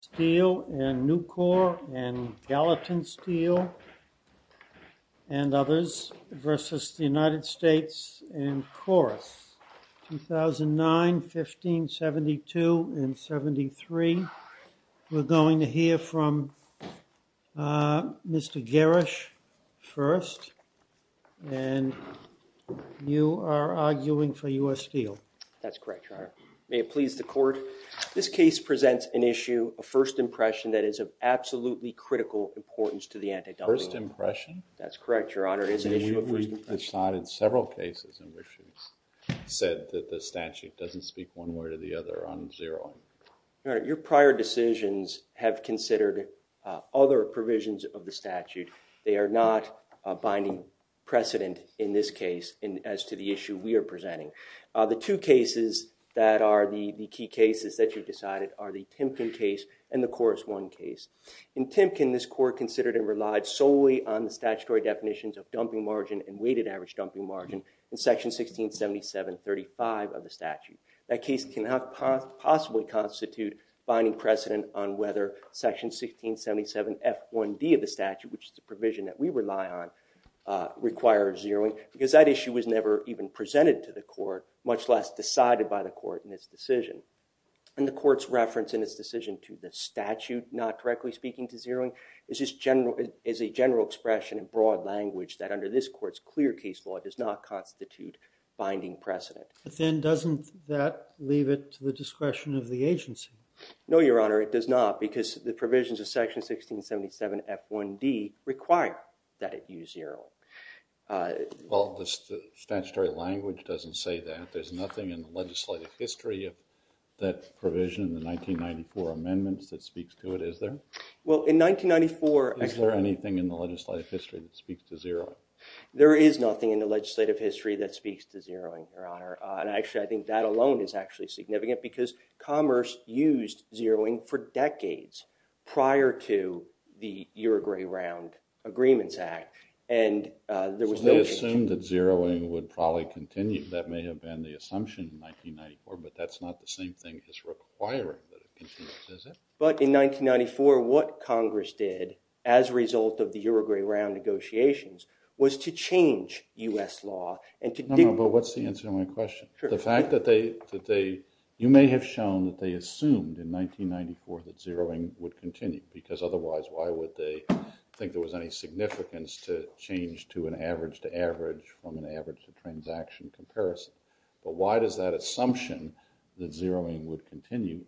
Steel and Nucor and Gallatin Steel and others v. United States and Corus, 2009, 15, 72, and 73. We're going to hear from Mr. Gerrish first, and you are arguing for U.S. Steel. That's correct, Your Honor. May it please the Court, this case presents an issue, a first impression that is of absolutely critical importance to the antidote. First impression? That's correct, Your Honor. It is an issue of first impression. We've decided several cases in which said that the statute doesn't speak one way or the other on zero. Your Honor, your prior decisions have considered other provisions of the statute. They are not a binding precedent in this case as to the issue we are presenting. The two cases that are the key cases that you've decided are the Timken case and the Corus I case. In Timken, this Court considered and relied solely on the statutory definitions of dumping margin and weighted average dumping margin in section 1677.35 of the statute. That case cannot possibly constitute binding precedent on whether section 1677.F1D of the statute was never even presented to the Court, much less decided by the Court in its decision. And the Court's reference in its decision to the statute not correctly speaking to zeroing is a general expression in broad language that under this Court's clear case law does not constitute binding precedent. But then doesn't that leave it to the discretion of the agency? No, Your Honor, it does not because the provisions of section 1677.F1D require that it use zero. Well, the statutory language doesn't say that. There's nothing in the legislative history of that provision in the 1994 amendments that speaks to it, is there? Well, in 1994... Is there anything in the legislative history that speaks to zeroing? There is nothing in the legislative history that speaks to zeroing, Your Honor, and actually I think that alone is actually significant because Commerce used zeroing for decades prior to the Uruguay Round Agreements Act, and there was no... So they assumed that zeroing would probably continue. That may have been the assumption in 1994, but that's not the same thing as requiring that it continue, is it? But in 1994, what Congress did as a result of the Uruguay Round negotiations was to change U.S. law and to do... No, no, but what's the answer to my question? The fact that they... You may have shown that they assumed in 1994 that zeroing would continue because otherwise why would they think there was any significance to change to an average-to-average from an average-to-transaction comparison, but why does that assumption that zeroing would continue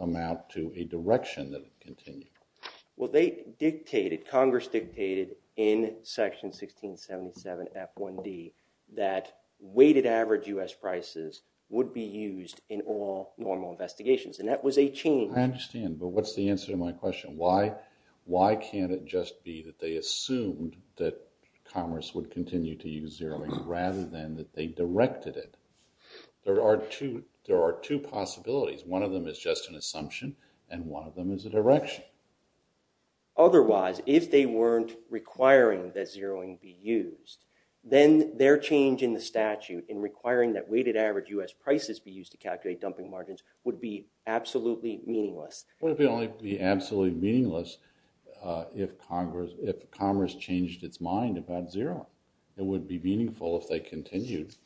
amount to a direction that it continued? Well, they dictated, Congress dictated in Section 1677 F1D that weighted average U.S. prices would be used in all normal investigations, and that was a change. I understand, but what's the answer to my question? Why can't it just be that they assumed that Congress would continue to use zeroing rather than that they directed it? There are two possibilities. One of them is just an assumption, and one of them is a direction. Otherwise, if they weren't requiring that zeroing be used, then their change in the statute in requiring that weighted average U.S. prices be used to calculate dumping margins would be absolutely meaningless. It would only be absolutely meaningless if Congress changed its mind about zeroing. It would be meaningful if they continued.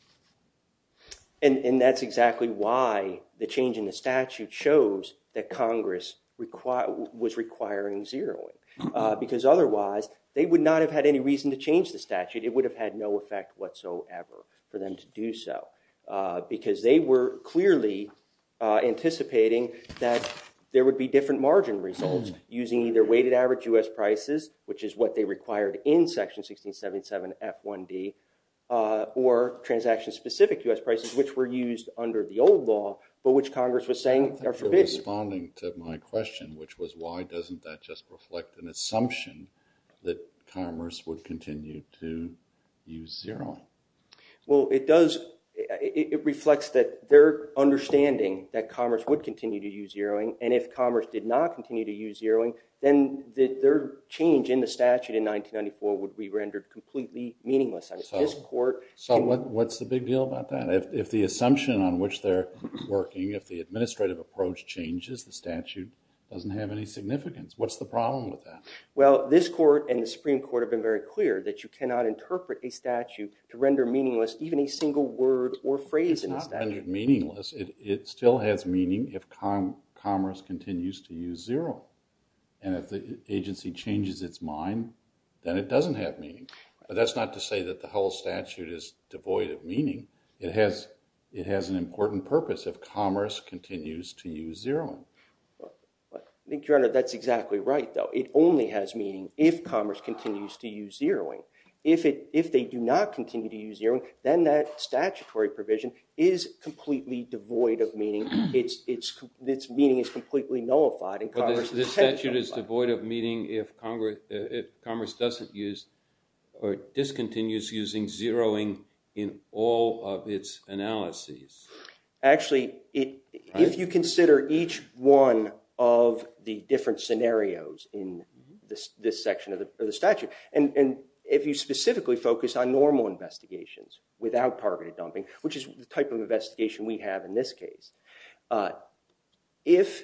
And that's exactly why the change in the statute shows that Congress was requiring zeroing, because otherwise they would not have had any reason to change the statute. It would have had effect whatsoever for them to do so, because they were clearly anticipating that there would be different margin results using either weighted average U.S. prices, which is what they required in Section 1677 F1D, or transaction-specific U.S. prices, which were used under the old law, but which Congress was saying are forbidden. Thank you for responding to my question, which was why doesn't that just reflect an assumption that Congress would continue to use zeroing? Well, it reflects that their understanding that Congress would continue to use zeroing, and if Congress did not continue to use zeroing, then their change in the statute in 1994 would be rendered completely meaningless. So what's the big deal about that? If the assumption on which they're working, if the administrative approach changes, the statute doesn't have any significance. What's the problem with that? Well, this Court and the Supreme Court have been very clear that you cannot interpret a statute to render meaningless even a single word or phrase in the statute. It's not rendered meaningless. It still has meaning if Congress continues to use zero, and if the agency changes its mind, then it doesn't have meaning. But that's not to say that the whole statute is devoid of meaning. It has an important purpose if Commerce continues to use zeroing. I think, Your Honor, that's exactly right, though. It only has meaning if Commerce continues to use zeroing. If they do not continue to use zeroing, then that statutory provision is completely devoid of meaning. Its meaning is completely nullified. But this statute is devoid of meaning if Commerce doesn't use or discontinues using zeroing in all of its analyses. Actually, if you consider each one of the different scenarios in this section of the statute, and if you specifically focus on normal investigations without targeted dumping, which is the type of investigation we have in this case, if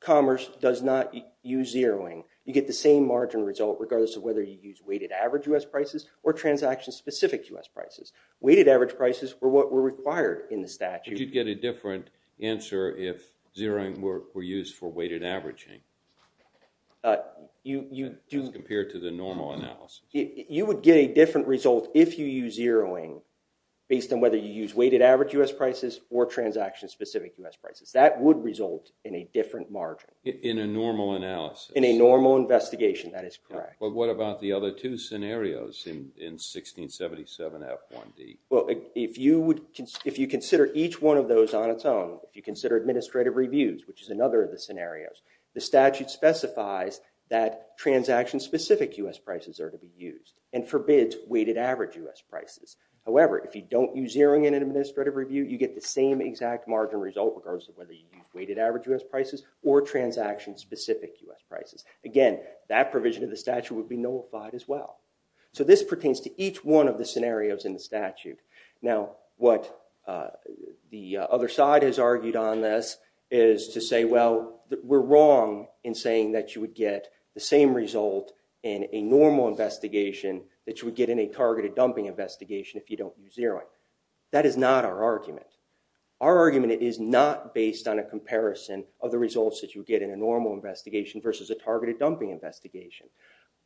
Commerce does not use zeroing, you get the same margin result regardless of whether you use weighted average U.S. prices or transaction-specific U.S. prices. Weighted average prices were what were required in the statute. You'd get a different answer if zeroing were used for weighted averaging as compared to the normal analysis. You would get a different result if you use zeroing based on whether you use weighted average U.S. prices or transaction-specific U.S. prices. That would result in a different margin. In a normal analysis. In a normal investigation, that is correct. But what about the other two scenarios in 1677 F1D? Well, if you consider each one of those on its own, if you consider administrative reviews, which is another of the scenarios, the statute specifies that transaction-specific U.S. prices are to be used and forbids weighted average U.S. prices. However, if you don't use zeroing in an administrative review, you get the same exact margin result regardless of whether you use weighted average U.S. prices or transaction- Again, that provision of the statute would be nullified as well. So this pertains to each one of the scenarios in the statute. Now, what the other side has argued on this is to say, well, we're wrong in saying that you would get the same result in a normal investigation that you would get in a targeted dumping investigation if you don't use zeroing. That is not our argument. Our argument is not based on a comparison of the results that you get in a normal investigation versus a targeted dumping investigation.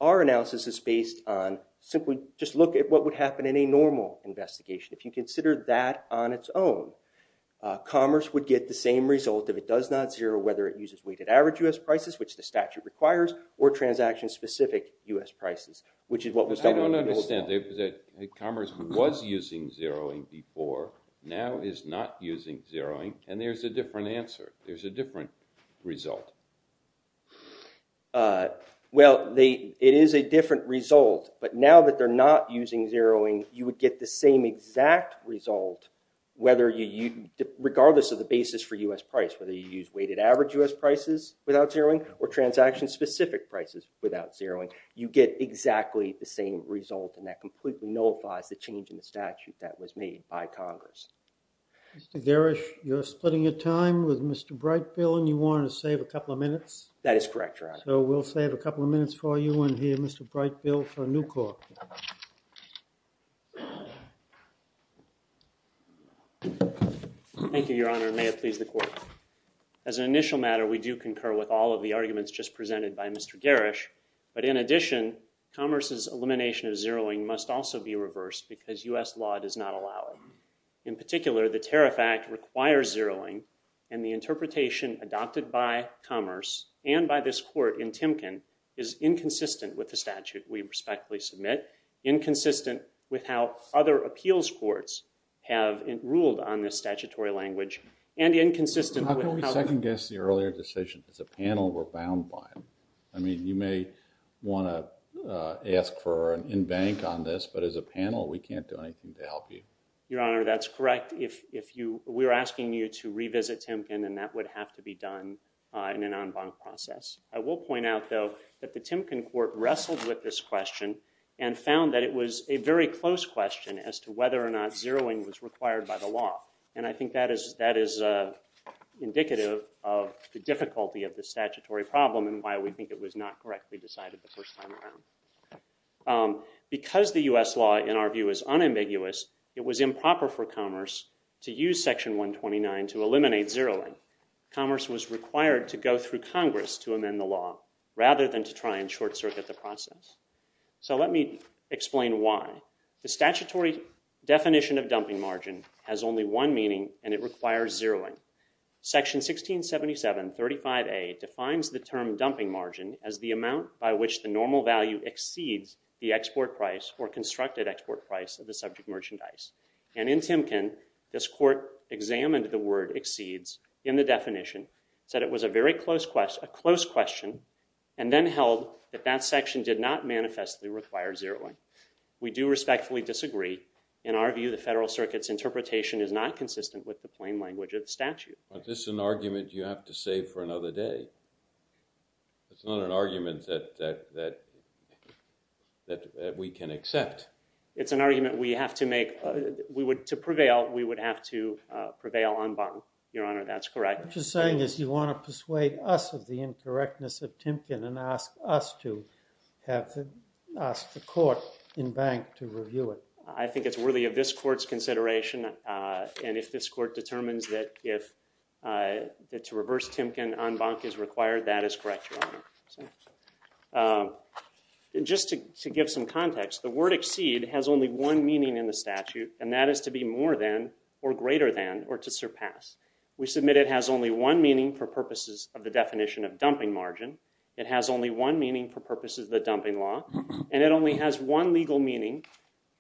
Our analysis is based on simply just look at what would happen in a normal investigation. If you consider that on its own, commerce would get the same result if it does not zero whether it uses weighted average U.S. prices, which the statute requires, or transaction-specific U.S. prices, which is what was- I don't understand. Commerce was using zeroing before, now is not using zeroing, and there's a different answer. There's a different result. Well, it is a different result, but now that they're not using zeroing, you would get the same exact result regardless of the basis for U.S. price, whether you use weighted average U.S. prices without zeroing or transaction-specific prices without zeroing. You get exactly the same result, and that completely nullifies the change in the statute that was made by Congress. Mr. Garish, you're splitting your time with Mr. Brightfield, and you want to save a couple of minutes? That is correct, Your Honor. So we'll save a couple of minutes for you and hear Mr. Brightfield for a new court. Thank you, Your Honor, and may it please the Court. As an initial matter, we do concur with all of the arguments just presented by Mr. Garish, but in addition, commerce's elimination of zeroing must also be reversed because U.S. law does not allow it. In particular, the Tariff Act requires zeroing, and the interpretation adopted by commerce and by this Court in Timken is inconsistent with the statute we respectfully submit, inconsistent with how other appeals courts have ruled on this statutory language, and inconsistent with how— How can we second-guess the earlier decision? As a panel, we're bound by them. I mean, you may want to ask for an in-bank on this, but as a panel, we can't do anything to help you. Your Honor, that's correct. If you— We're asking you to revisit Timken, and that would have to be done in an en banc process. I will point out, though, that the Timken Court wrestled with this question and found that it was a very close question as to whether or not zeroing was of the statutory problem and why we think it was not correctly decided the first time around. Because the U.S. law, in our view, is unambiguous, it was improper for commerce to use Section 129 to eliminate zeroing. Commerce was required to go through Congress to amend the law rather than to try and short-circuit the process. So let me explain why. The statutory definition of dumping margin has only one meaning, and it requires zeroing. Section 167735A defines the term dumping margin as the amount by which the normal value exceeds the export price or constructed export price of the subject merchandise. And in Timken, this Court examined the word exceeds in the definition, said it was a very close question, and then held that that section did not manifestly require zeroing. We do respectfully disagree. In our view, the Federal Circuit's interpretation is not consistent with the plain language of the statute. Is this an argument you have to save for another day? It's not an argument that we can accept. It's an argument we have to make, to prevail, we would have to prevail en banc. Your Honor, that's correct. What you're saying is you want to persuade us of the incorrectness of Timken and ask us to have to ask the Court en banc to review it. I think it's worthy of this Court's consideration, and if this Court determines that to reverse Timken en banc is required, that is correct, Your Honor. Just to give some context, the word exceed has only one meaning in the statute, and that is to be more than, or greater than, or to surpass. We submit it has only one meaning for purposes of the definition of dumping margin. It has only one meaning for purposes of the dumping law, and it only has one legal meaning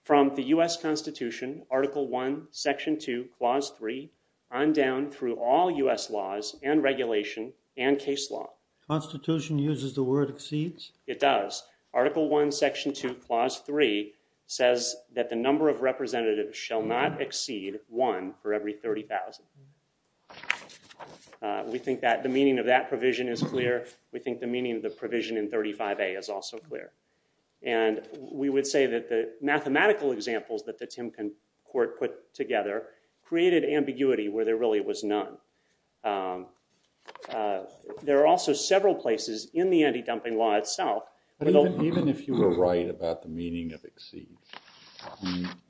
from the U.S. Constitution, Article I, Section 2, Clause 3, on down through all U.S. laws and regulation and case law. Constitution uses the word exceeds? It does. Article I, Section 2, Clause 3 says that the number of representatives shall not exceed one for every 30,000. We think that the meaning of that provision is clear. We think the meaning of the provision in 35A is also clear, and we would say that the mathematical examples that the Timken Court put together created ambiguity where there really was none. There are also several places in the anti-dumping law itself. But even if you were right about the meaning of exceeds,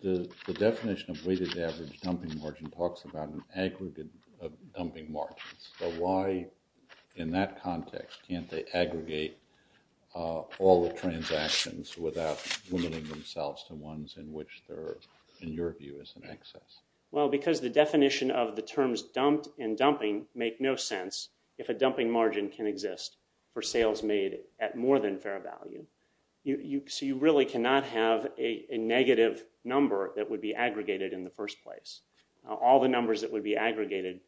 the definition of weighted average dumping margin talks about an aggregate of dumping margins. So, why in that context can't they aggregate all the transactions without limiting themselves to ones in which they're, in your view, is an excess? Well, because the definition of the terms dumped in dumping make no sense if a dumping margin can exist for sales made at more than fair value. So, you really cannot have a negative number that would be aggregated in the first place. All the numbers that would be aggregated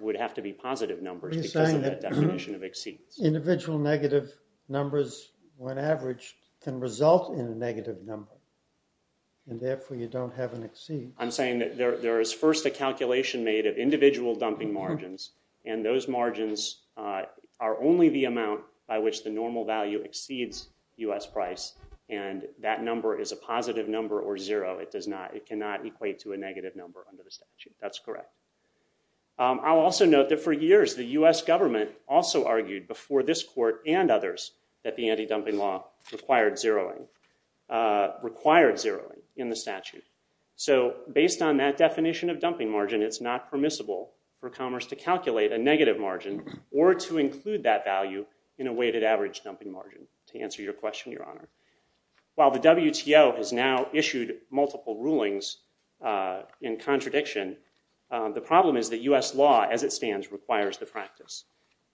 would have to be positive numbers because of that definition of exceeds. Are you saying that individual negative numbers, when averaged, can result in a negative number, and therefore you don't have an exceeds? I'm saying that there is first a calculation made of individual dumping margins, and those margins are only the amount by which the normal value exceeds U.S. price, and that number is a positive number or zero. It does not, it cannot equate to a negative number under the statute. That's correct. I'll also note that for years the U.S. government also argued before this court and others that the anti-dumping law required zeroing in the statute. So, based on that definition of dumping margin, it's not permissible for commerce to calculate a negative margin or to include that value in a weighted average dumping margin, to answer your question, Your Honor. While the WTO has now issued multiple rulings in contradiction, the problem is that U.S. law as it stands requires the practice.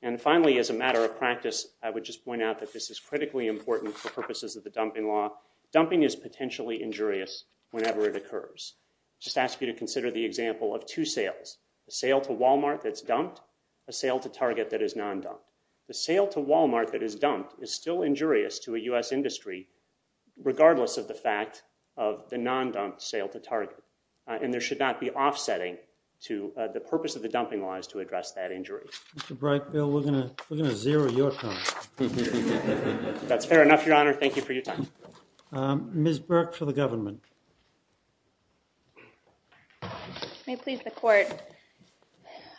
And finally, as a matter of practice, I would just point out that this is critically important for purposes of the dumping law. Dumping is potentially injurious whenever it occurs. Just ask you to consider the example of two sales, a sale to Walmart that's dumped, a sale to Target that is non-dumped. The sale to Walmart that is dumped is still injurious to a U.S. industry, regardless of the fact of the non-dumped sale to Target. And there should not be offsetting to the purpose of the dumping law is to address that injury. Mr. Breitbill, we're going to zero your time. That's fair enough, Your Honor. Thank you for your time. Ms. Burke for the government. May it please the court.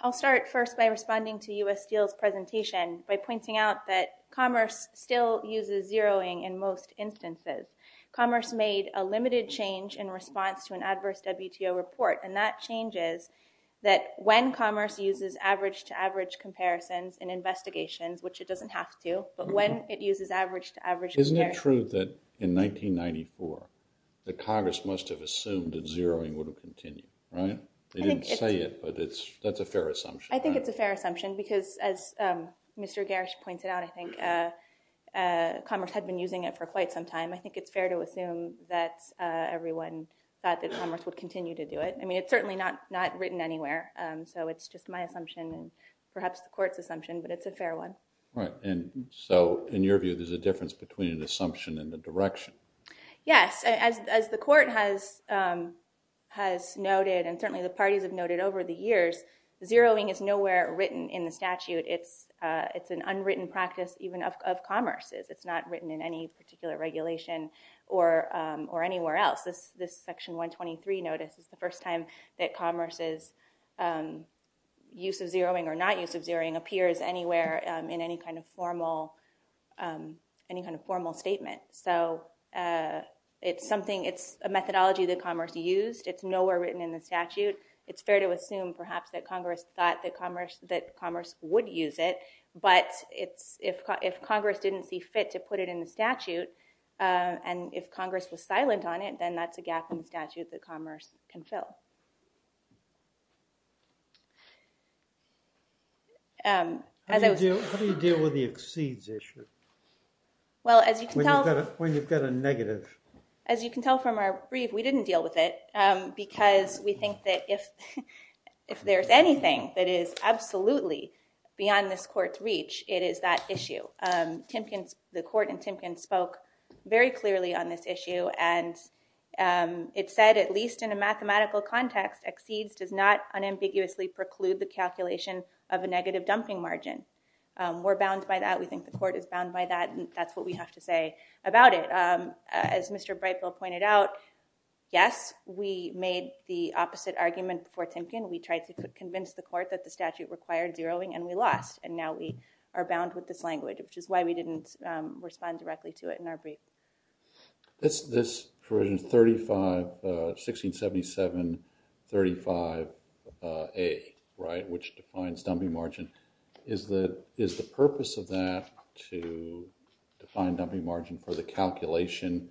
I'll start first by responding to U.S. Steel's presentation by pointing out that commerce still uses zeroing in most instances. Commerce made a limited change in response to an adverse WTO report, and that change is that when commerce uses average-to-average comparisons in investigations, which it doesn't have to, but when it uses average-to-average comparisons... Isn't it true that in 1994, the Congress must have assumed that zeroing would have continued, right? They didn't say it, but that's a fair assumption, right? I think it's a fair assumption because as Mr. Breitbill has been using it for quite some time, I think it's fair to assume that everyone thought that commerce would continue to do it. I mean, it's certainly not written anywhere, so it's just my assumption and perhaps the court's assumption, but it's a fair one. Right, and so in your view, there's a difference between an assumption and the direction. Yes, as the court has noted, and certainly the parties have noted over the years, zeroing is nowhere written in the statute. It's an unwritten practice even of commerce. It's not written in any particular regulation or anywhere else. This Section 123 notice is the first time that commerce's use of zeroing or not use of zeroing appears anywhere in any kind of formal statement. So it's a methodology that commerce used. It's nowhere written in the statute. It's fair to assume perhaps that Congress thought that commerce would use it, but if Congress didn't see fit to put it in the statute and if Congress was silent on it, then that's a gap in the statute that commerce can fill. How do you deal with the exceeds issue? Well, as you can tell from our brief, we didn't deal with it because we think that if there's anything that is absolutely beyond this court's reach, it is that issue. The court in Timpkins spoke very clearly on this issue, and it said, at least in a mathematical context, exceeds does not unambiguously preclude the calculation of a negative dumping margin. We're bound by that. We think the court is bound by that, and that's what we have to say about it. As Mr. Brightville pointed out, yes, we made the opposite argument for Timpkins. We tried to convince the court that the statute required zeroing and we lost, and now we are bound with this language, which is why we didn't respond directly to it in our brief. This provision, 1677.35a, which defines dumping margin, is the purpose of that to define dumping margin for the calculation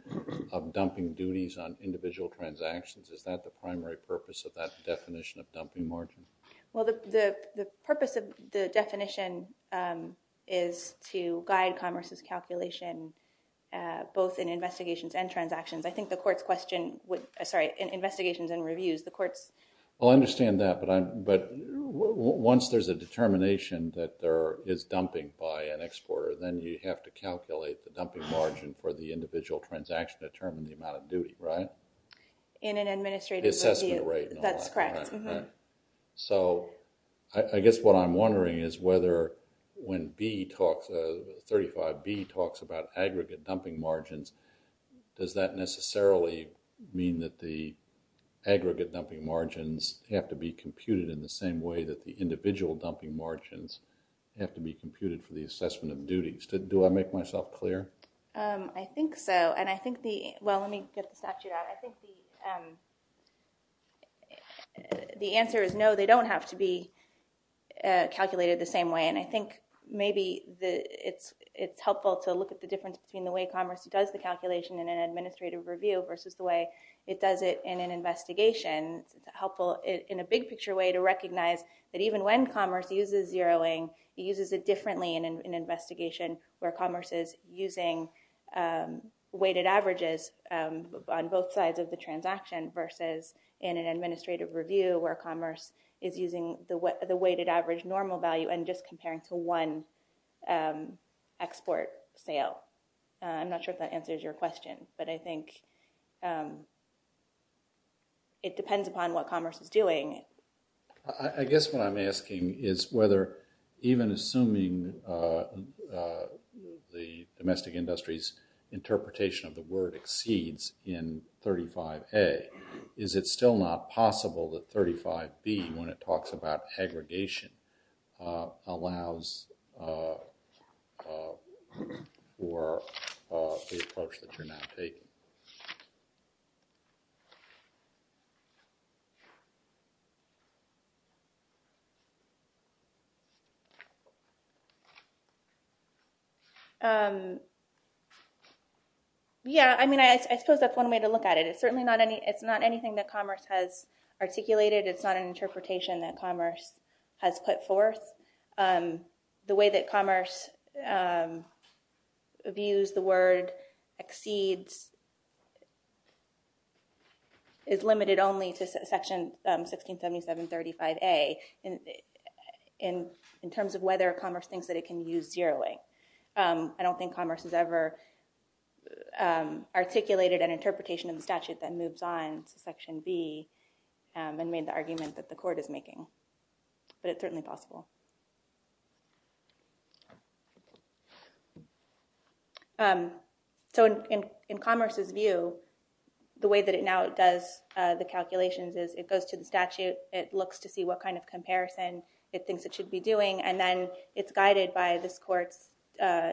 of dumping duties on individual transactions? Is that the primary purpose of that definition of dumping margin? Well, the purpose of the definition is to guide commerce's calculation, both in investigations and transactions. I think the court's question, sorry, in investigations and reviews, the court's- I understand that, but once there's a determination that there is dumping by an exporter, then you have to calculate the dumping margin for the individual transaction to determine the amount of duty, right? In an administrative review. The assessment rate and all that. That's correct. So I guess what I'm wondering is whether when 35b talks about aggregate dumping margins, does that necessarily mean that the aggregate dumping margins have to be computed in the same way that the individual dumping margins have to be computed for the assessment of duties? Do I make myself clear? I think so, and I think the- well, let me get the statute out. I think the answer is no, they don't have to be calculated the same way, and I think maybe it's helpful to look at the difference between the calculation in an administrative review versus the way it does it in an investigation. It's helpful in a big picture way to recognize that even when commerce uses zeroing, it uses it differently in an investigation where commerce is using weighted averages on both sides of the transaction versus in an administrative review where commerce is using the weighted average value and just comparing to one export sale. I'm not sure if that answers your question, but I think it depends upon what commerce is doing. I guess what I'm asking is whether even assuming the domestic industry's interpretation of the word exceeds in 35a, is it still not possible that 35b, when it talks about aggregation, allows for the approach that you're now taking? Yeah, I mean, I suppose that's one way to look at it. It's certainly not any- it's not anything that commerce has articulated. It's not an interpretation that commerce has put forth. The way that commerce views the word exceeds is limited only to section 1677-35a in terms of whether commerce thinks that it can use zeroing. I don't think commerce has ever articulated an interpretation of the statute that moves on to section b and made the argument that the court is making, but it's certainly possible. So in commerce's view, the way that it now does the calculations is it goes to the statute, it looks to see what kind of comparison it thinks it should be doing, and then it's guided by this court's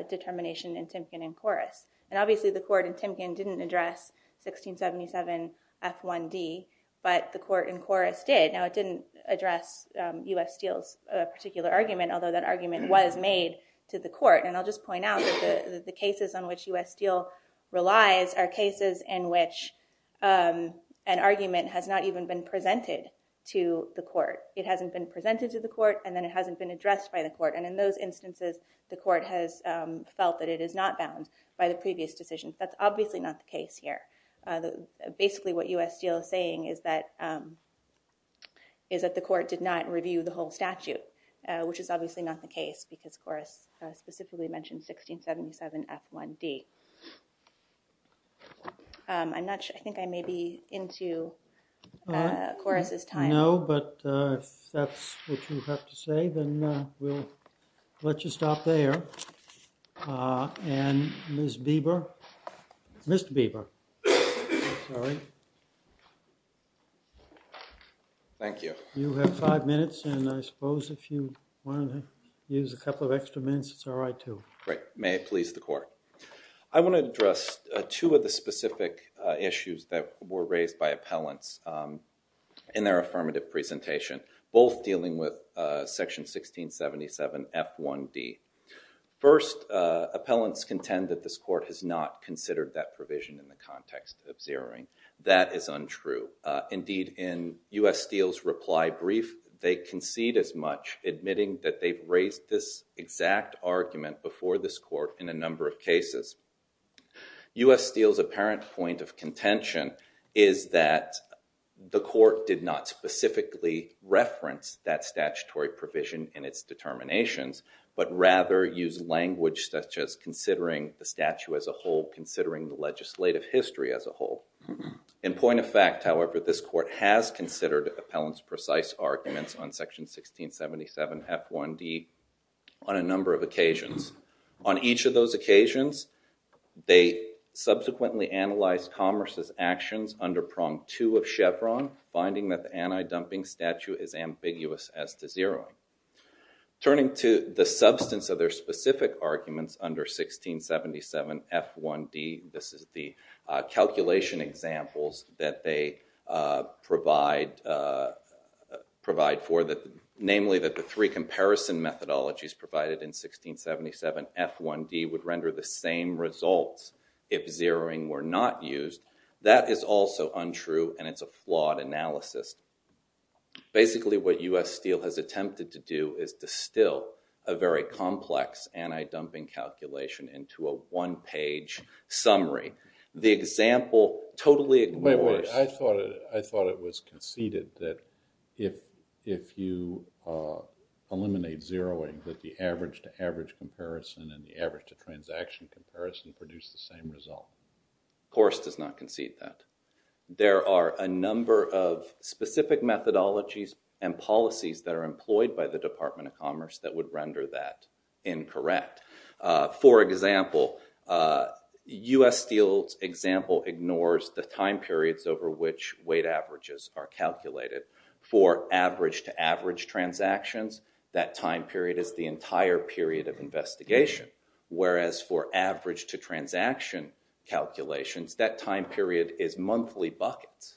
determination in Timpkin and Koris. And obviously the court in Timpkin didn't address 1677-f1d, but the court in Koris did. Now it didn't address U.S. Steele's particular argument, although that argument was made to the court. And I'll just point out that the cases on which U.S. Steele relies are cases in which an argument has not even been presented to the court. It hasn't been presented to the court, and then it hasn't been addressed by the court. And in those instances, the court has felt that it is not bound by the previous decision. That's obviously not the case here. Basically what U.S. Steele is saying is that the court did not review the whole statute, which is obviously not the case because Koris specifically mentioned 1677-f1d. I think I may be into Koris's time. No, but if that's what you have to say, then we'll let you stop there. And Ms. Bieber, Mr. Bieber. Thank you. You have five minutes, and I suppose if you want to use a couple of extra minutes, it's all right too. Great. May it please the court. I want to address two of the specific issues that were raised by appellants in their affirmative presentation, both dealing with 1677-f1d. First, appellants contend that this court has not considered that provision in the context of zeroing. That is untrue. Indeed, in U.S. Steele's reply brief, they concede as much, admitting that they've raised this exact argument before this court in a number of cases. U.S. Steele's apparent point of contention is that the court did not specifically reference that statutory provision in its determinations, but rather used language such as considering the statute as a whole, considering the legislative history as a whole. In point of fact, however, this court has considered appellants' precise arguments on section 1677-f1d on a number of occasions. On each of those occasions, they subsequently analyzed Commerce's actions under prong two of Chevron, finding that the anti-dumping statute is ambiguous as to zeroing. Turning to the substance of their specific arguments under 1677-f1d, this is the calculation examples that they provide for, namely that the three that is also untrue, and it's a flawed analysis. Basically, what U.S. Steele has attempted to do is distill a very complex anti-dumping calculation into a one-page summary. The example totally ignores— Wait, wait. I thought it was conceded that if you eliminate zeroing, that the average to average comparison and the average to transaction comparison produce the same result. Of course, it does not concede that. There are a number of specific methodologies and policies that are employed by the Department of Commerce that would render that incorrect. For example, U.S. Steele's example ignores the time periods over which weight averages are calculated. For average to average transactions, that time period is the entire period of investigation, whereas for average to transaction calculations, that time period is monthly buckets.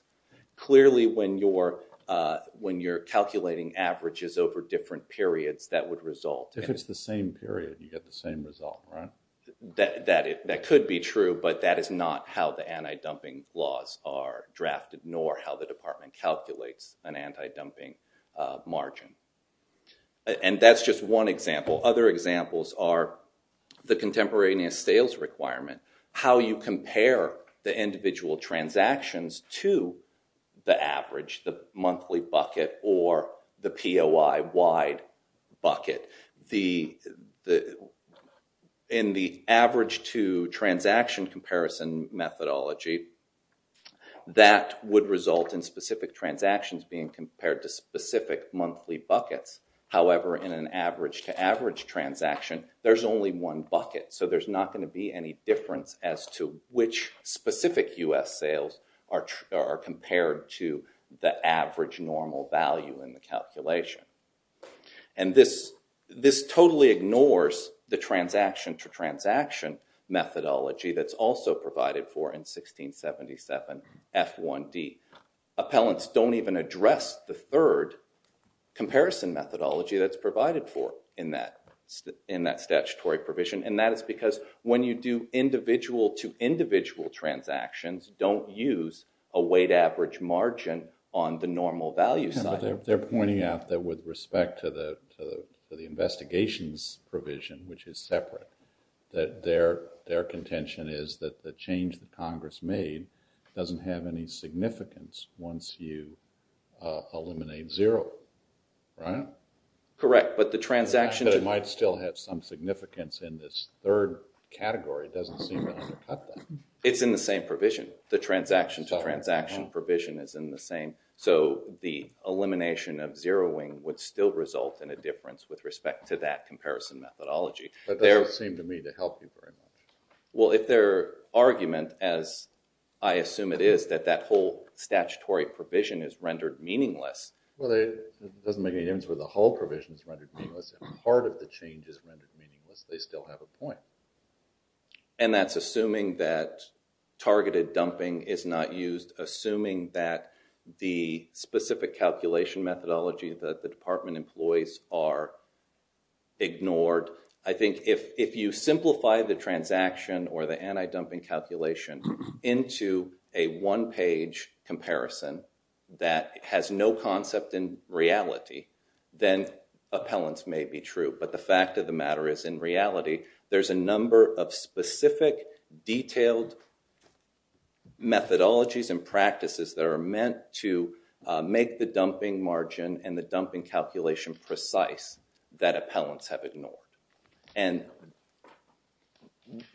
Clearly, when you're calculating averages over different periods, that would result— If it's the same period, you get the same result, right? That could be true, but that is not how the anti-dumping laws are drafted, nor how the department calculates an anti-dumping margin. That's just one example. Other examples are the contemporaneous sales requirement, how you compare the individual transactions to the average, the monthly bucket, or the POI-wide bucket. In the average to transaction comparison methodology, that would result in specific transactions being compared to specific monthly buckets. However, in an average to average transaction, there's only one bucket, so there's not going to be any difference as to which specific U.S. sales are compared to the average normal value in the calculation. This totally ignores the transaction to transaction methodology that's also provided for in 1677 F1D. Appellants don't even address the third comparison methodology that's provided for in that statutory provision, and that is because when you do individual to individual transactions, don't use a weight average margin on the normal value side. They're pointing out that with respect to the investigations provision, which is separate, that their contention is that the change that eliminates zero, right? Correct, but the transaction... But it might still have some significance in this third category. It doesn't seem to undercut that. It's in the same provision. The transaction to transaction provision is in the same, so the elimination of zeroing would still result in a difference with respect to that comparison methodology. That doesn't seem to me to help you very much. Well, if their argument, as I assume it is, that that whole provision is rendered meaningless... Well, it doesn't make any difference whether the whole provision is rendered meaningless. If part of the change is rendered meaningless, they still have a point. And that's assuming that targeted dumping is not used, assuming that the specific calculation methodology that the department employs are ignored. I think if you simplify the transaction or the anti-dumping calculation into a one-page comparison that has no concept in reality, then appellants may be true. But the fact of the matter is in reality, there's a number of specific detailed methodologies and practices that are meant to make the dumping margin and the dumping margin.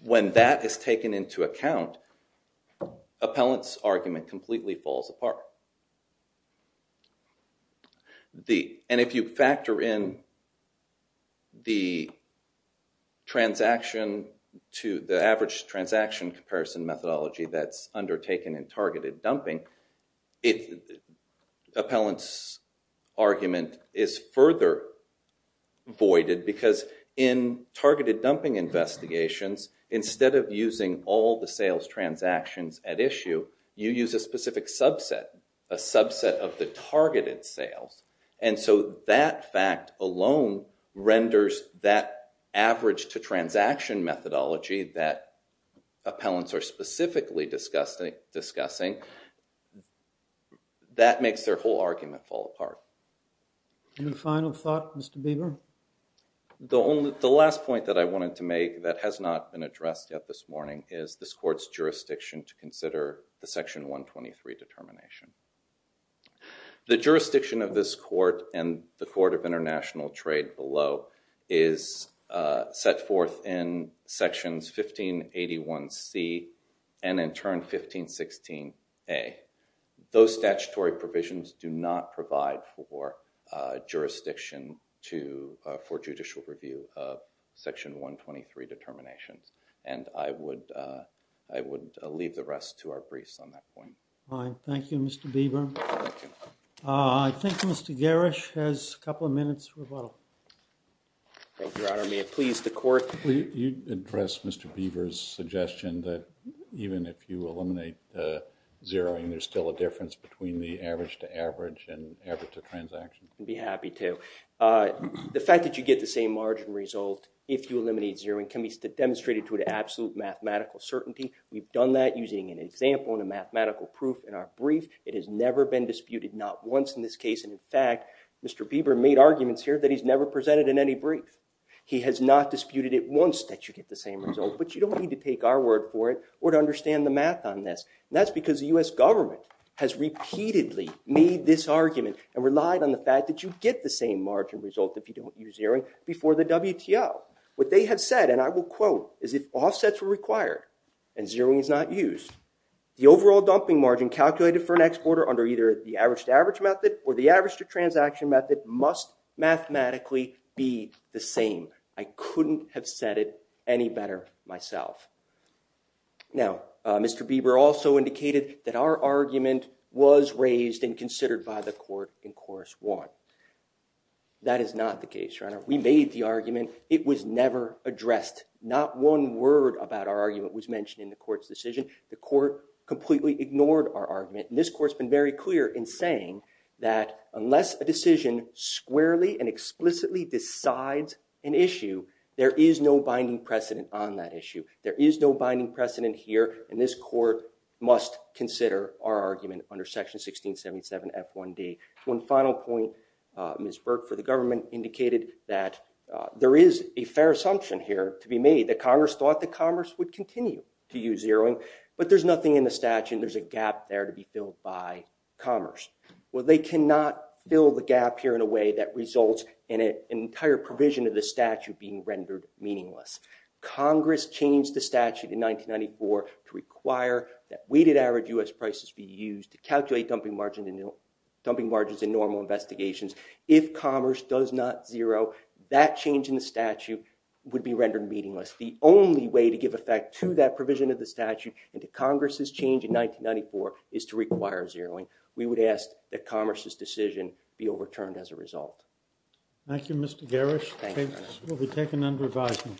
When that is taken into account, appellant's argument completely falls apart. And if you factor in the average transaction comparison methodology that's undertaken in targeted dumping, appellant's argument is further voided because in targeted dumping investigations, instead of using all the sales transactions at issue, you use a specific subset, a subset of the targeted sales. And so that fact alone renders that average-to-transaction methodology that appellants are specifically discussing, that makes their whole argument fall apart. Your final thought, Mr. Bieber? The last point that I wanted to make that has not been addressed yet this morning is this court's jurisdiction to consider the Section 123 determination. The jurisdiction of this court and the Court of International Trade below is set forth in Section 1581C and in turn 1516A. Those statutory provisions do not provide for jurisdiction for judicial review of Section 123 determinations. And I would leave the rest to our briefs on that point. Fine. Thank you, Mr. Bieber. I think Mr. Garish has a couple of minutes rebuttal. Thank you, Your Honor. May it please the court? Will you address Mr. Bieber's suggestion that even if you eliminate zeroing, there's still a difference between the average-to-average and average-to-transaction? I'd be happy to. The fact that you get the same margin result if you eliminate zeroing can be demonstrated to an absolute mathematical certainty. We've done that using an example and a mathematical proof in our brief. It has never been disputed, not once in this case. And in fact, Mr. Bieber made arguments here that he's never presented in any brief. He has not disputed it once that you get the same result, but you don't need to take our word for it or to understand the math on this. And that's because the U.S. government has repeatedly made this argument and relied on the fact that you get the same margin result if you don't use zeroing before the WTO. What they have said, and I will quote, is if offsets were required and zeroing is not used, the overall dumping margin calculated for an exporter under either the average-to-average method or the average-to-transaction method must mathematically be the same. I couldn't have said it any better myself. Now, Mr. Bieber also indicated that our argument was raised and considered by the court in Course 1. That is not the case, Your Honor. We made the argument. It was never addressed. Not one word about our argument was mentioned in the court's decision. The court completely ignored our argument. And this court's been very clear in saying that unless a decision squarely and explicitly decides an issue, there is no binding precedent on that issue. There is no binding precedent here, and this court must consider our argument under Section 1677 F1D. One final point, Ms. Burke, for the government indicated that there is a fair assumption here to be made that Congress thought that Congress would continue to use zeroing, but there's nothing in the statute. There's a gap there to be filled by Commerce. Well, they cannot fill the gap here in a way that results in an entire provision of the statute being rendered meaningless. Congress changed the statute in 1994 to require that weighted average U.S. prices be used to calculate dumping margins in normal investigations. If Commerce does not zero, that change in the statute would be rendered meaningless. The only way to give effect to that provision of the statute and to Congress's change in 1994 is to require zeroing. We would ask that Commerce's decision be overturned as a result. Thank you, Mr. Garrish. We'll be taking under advisement.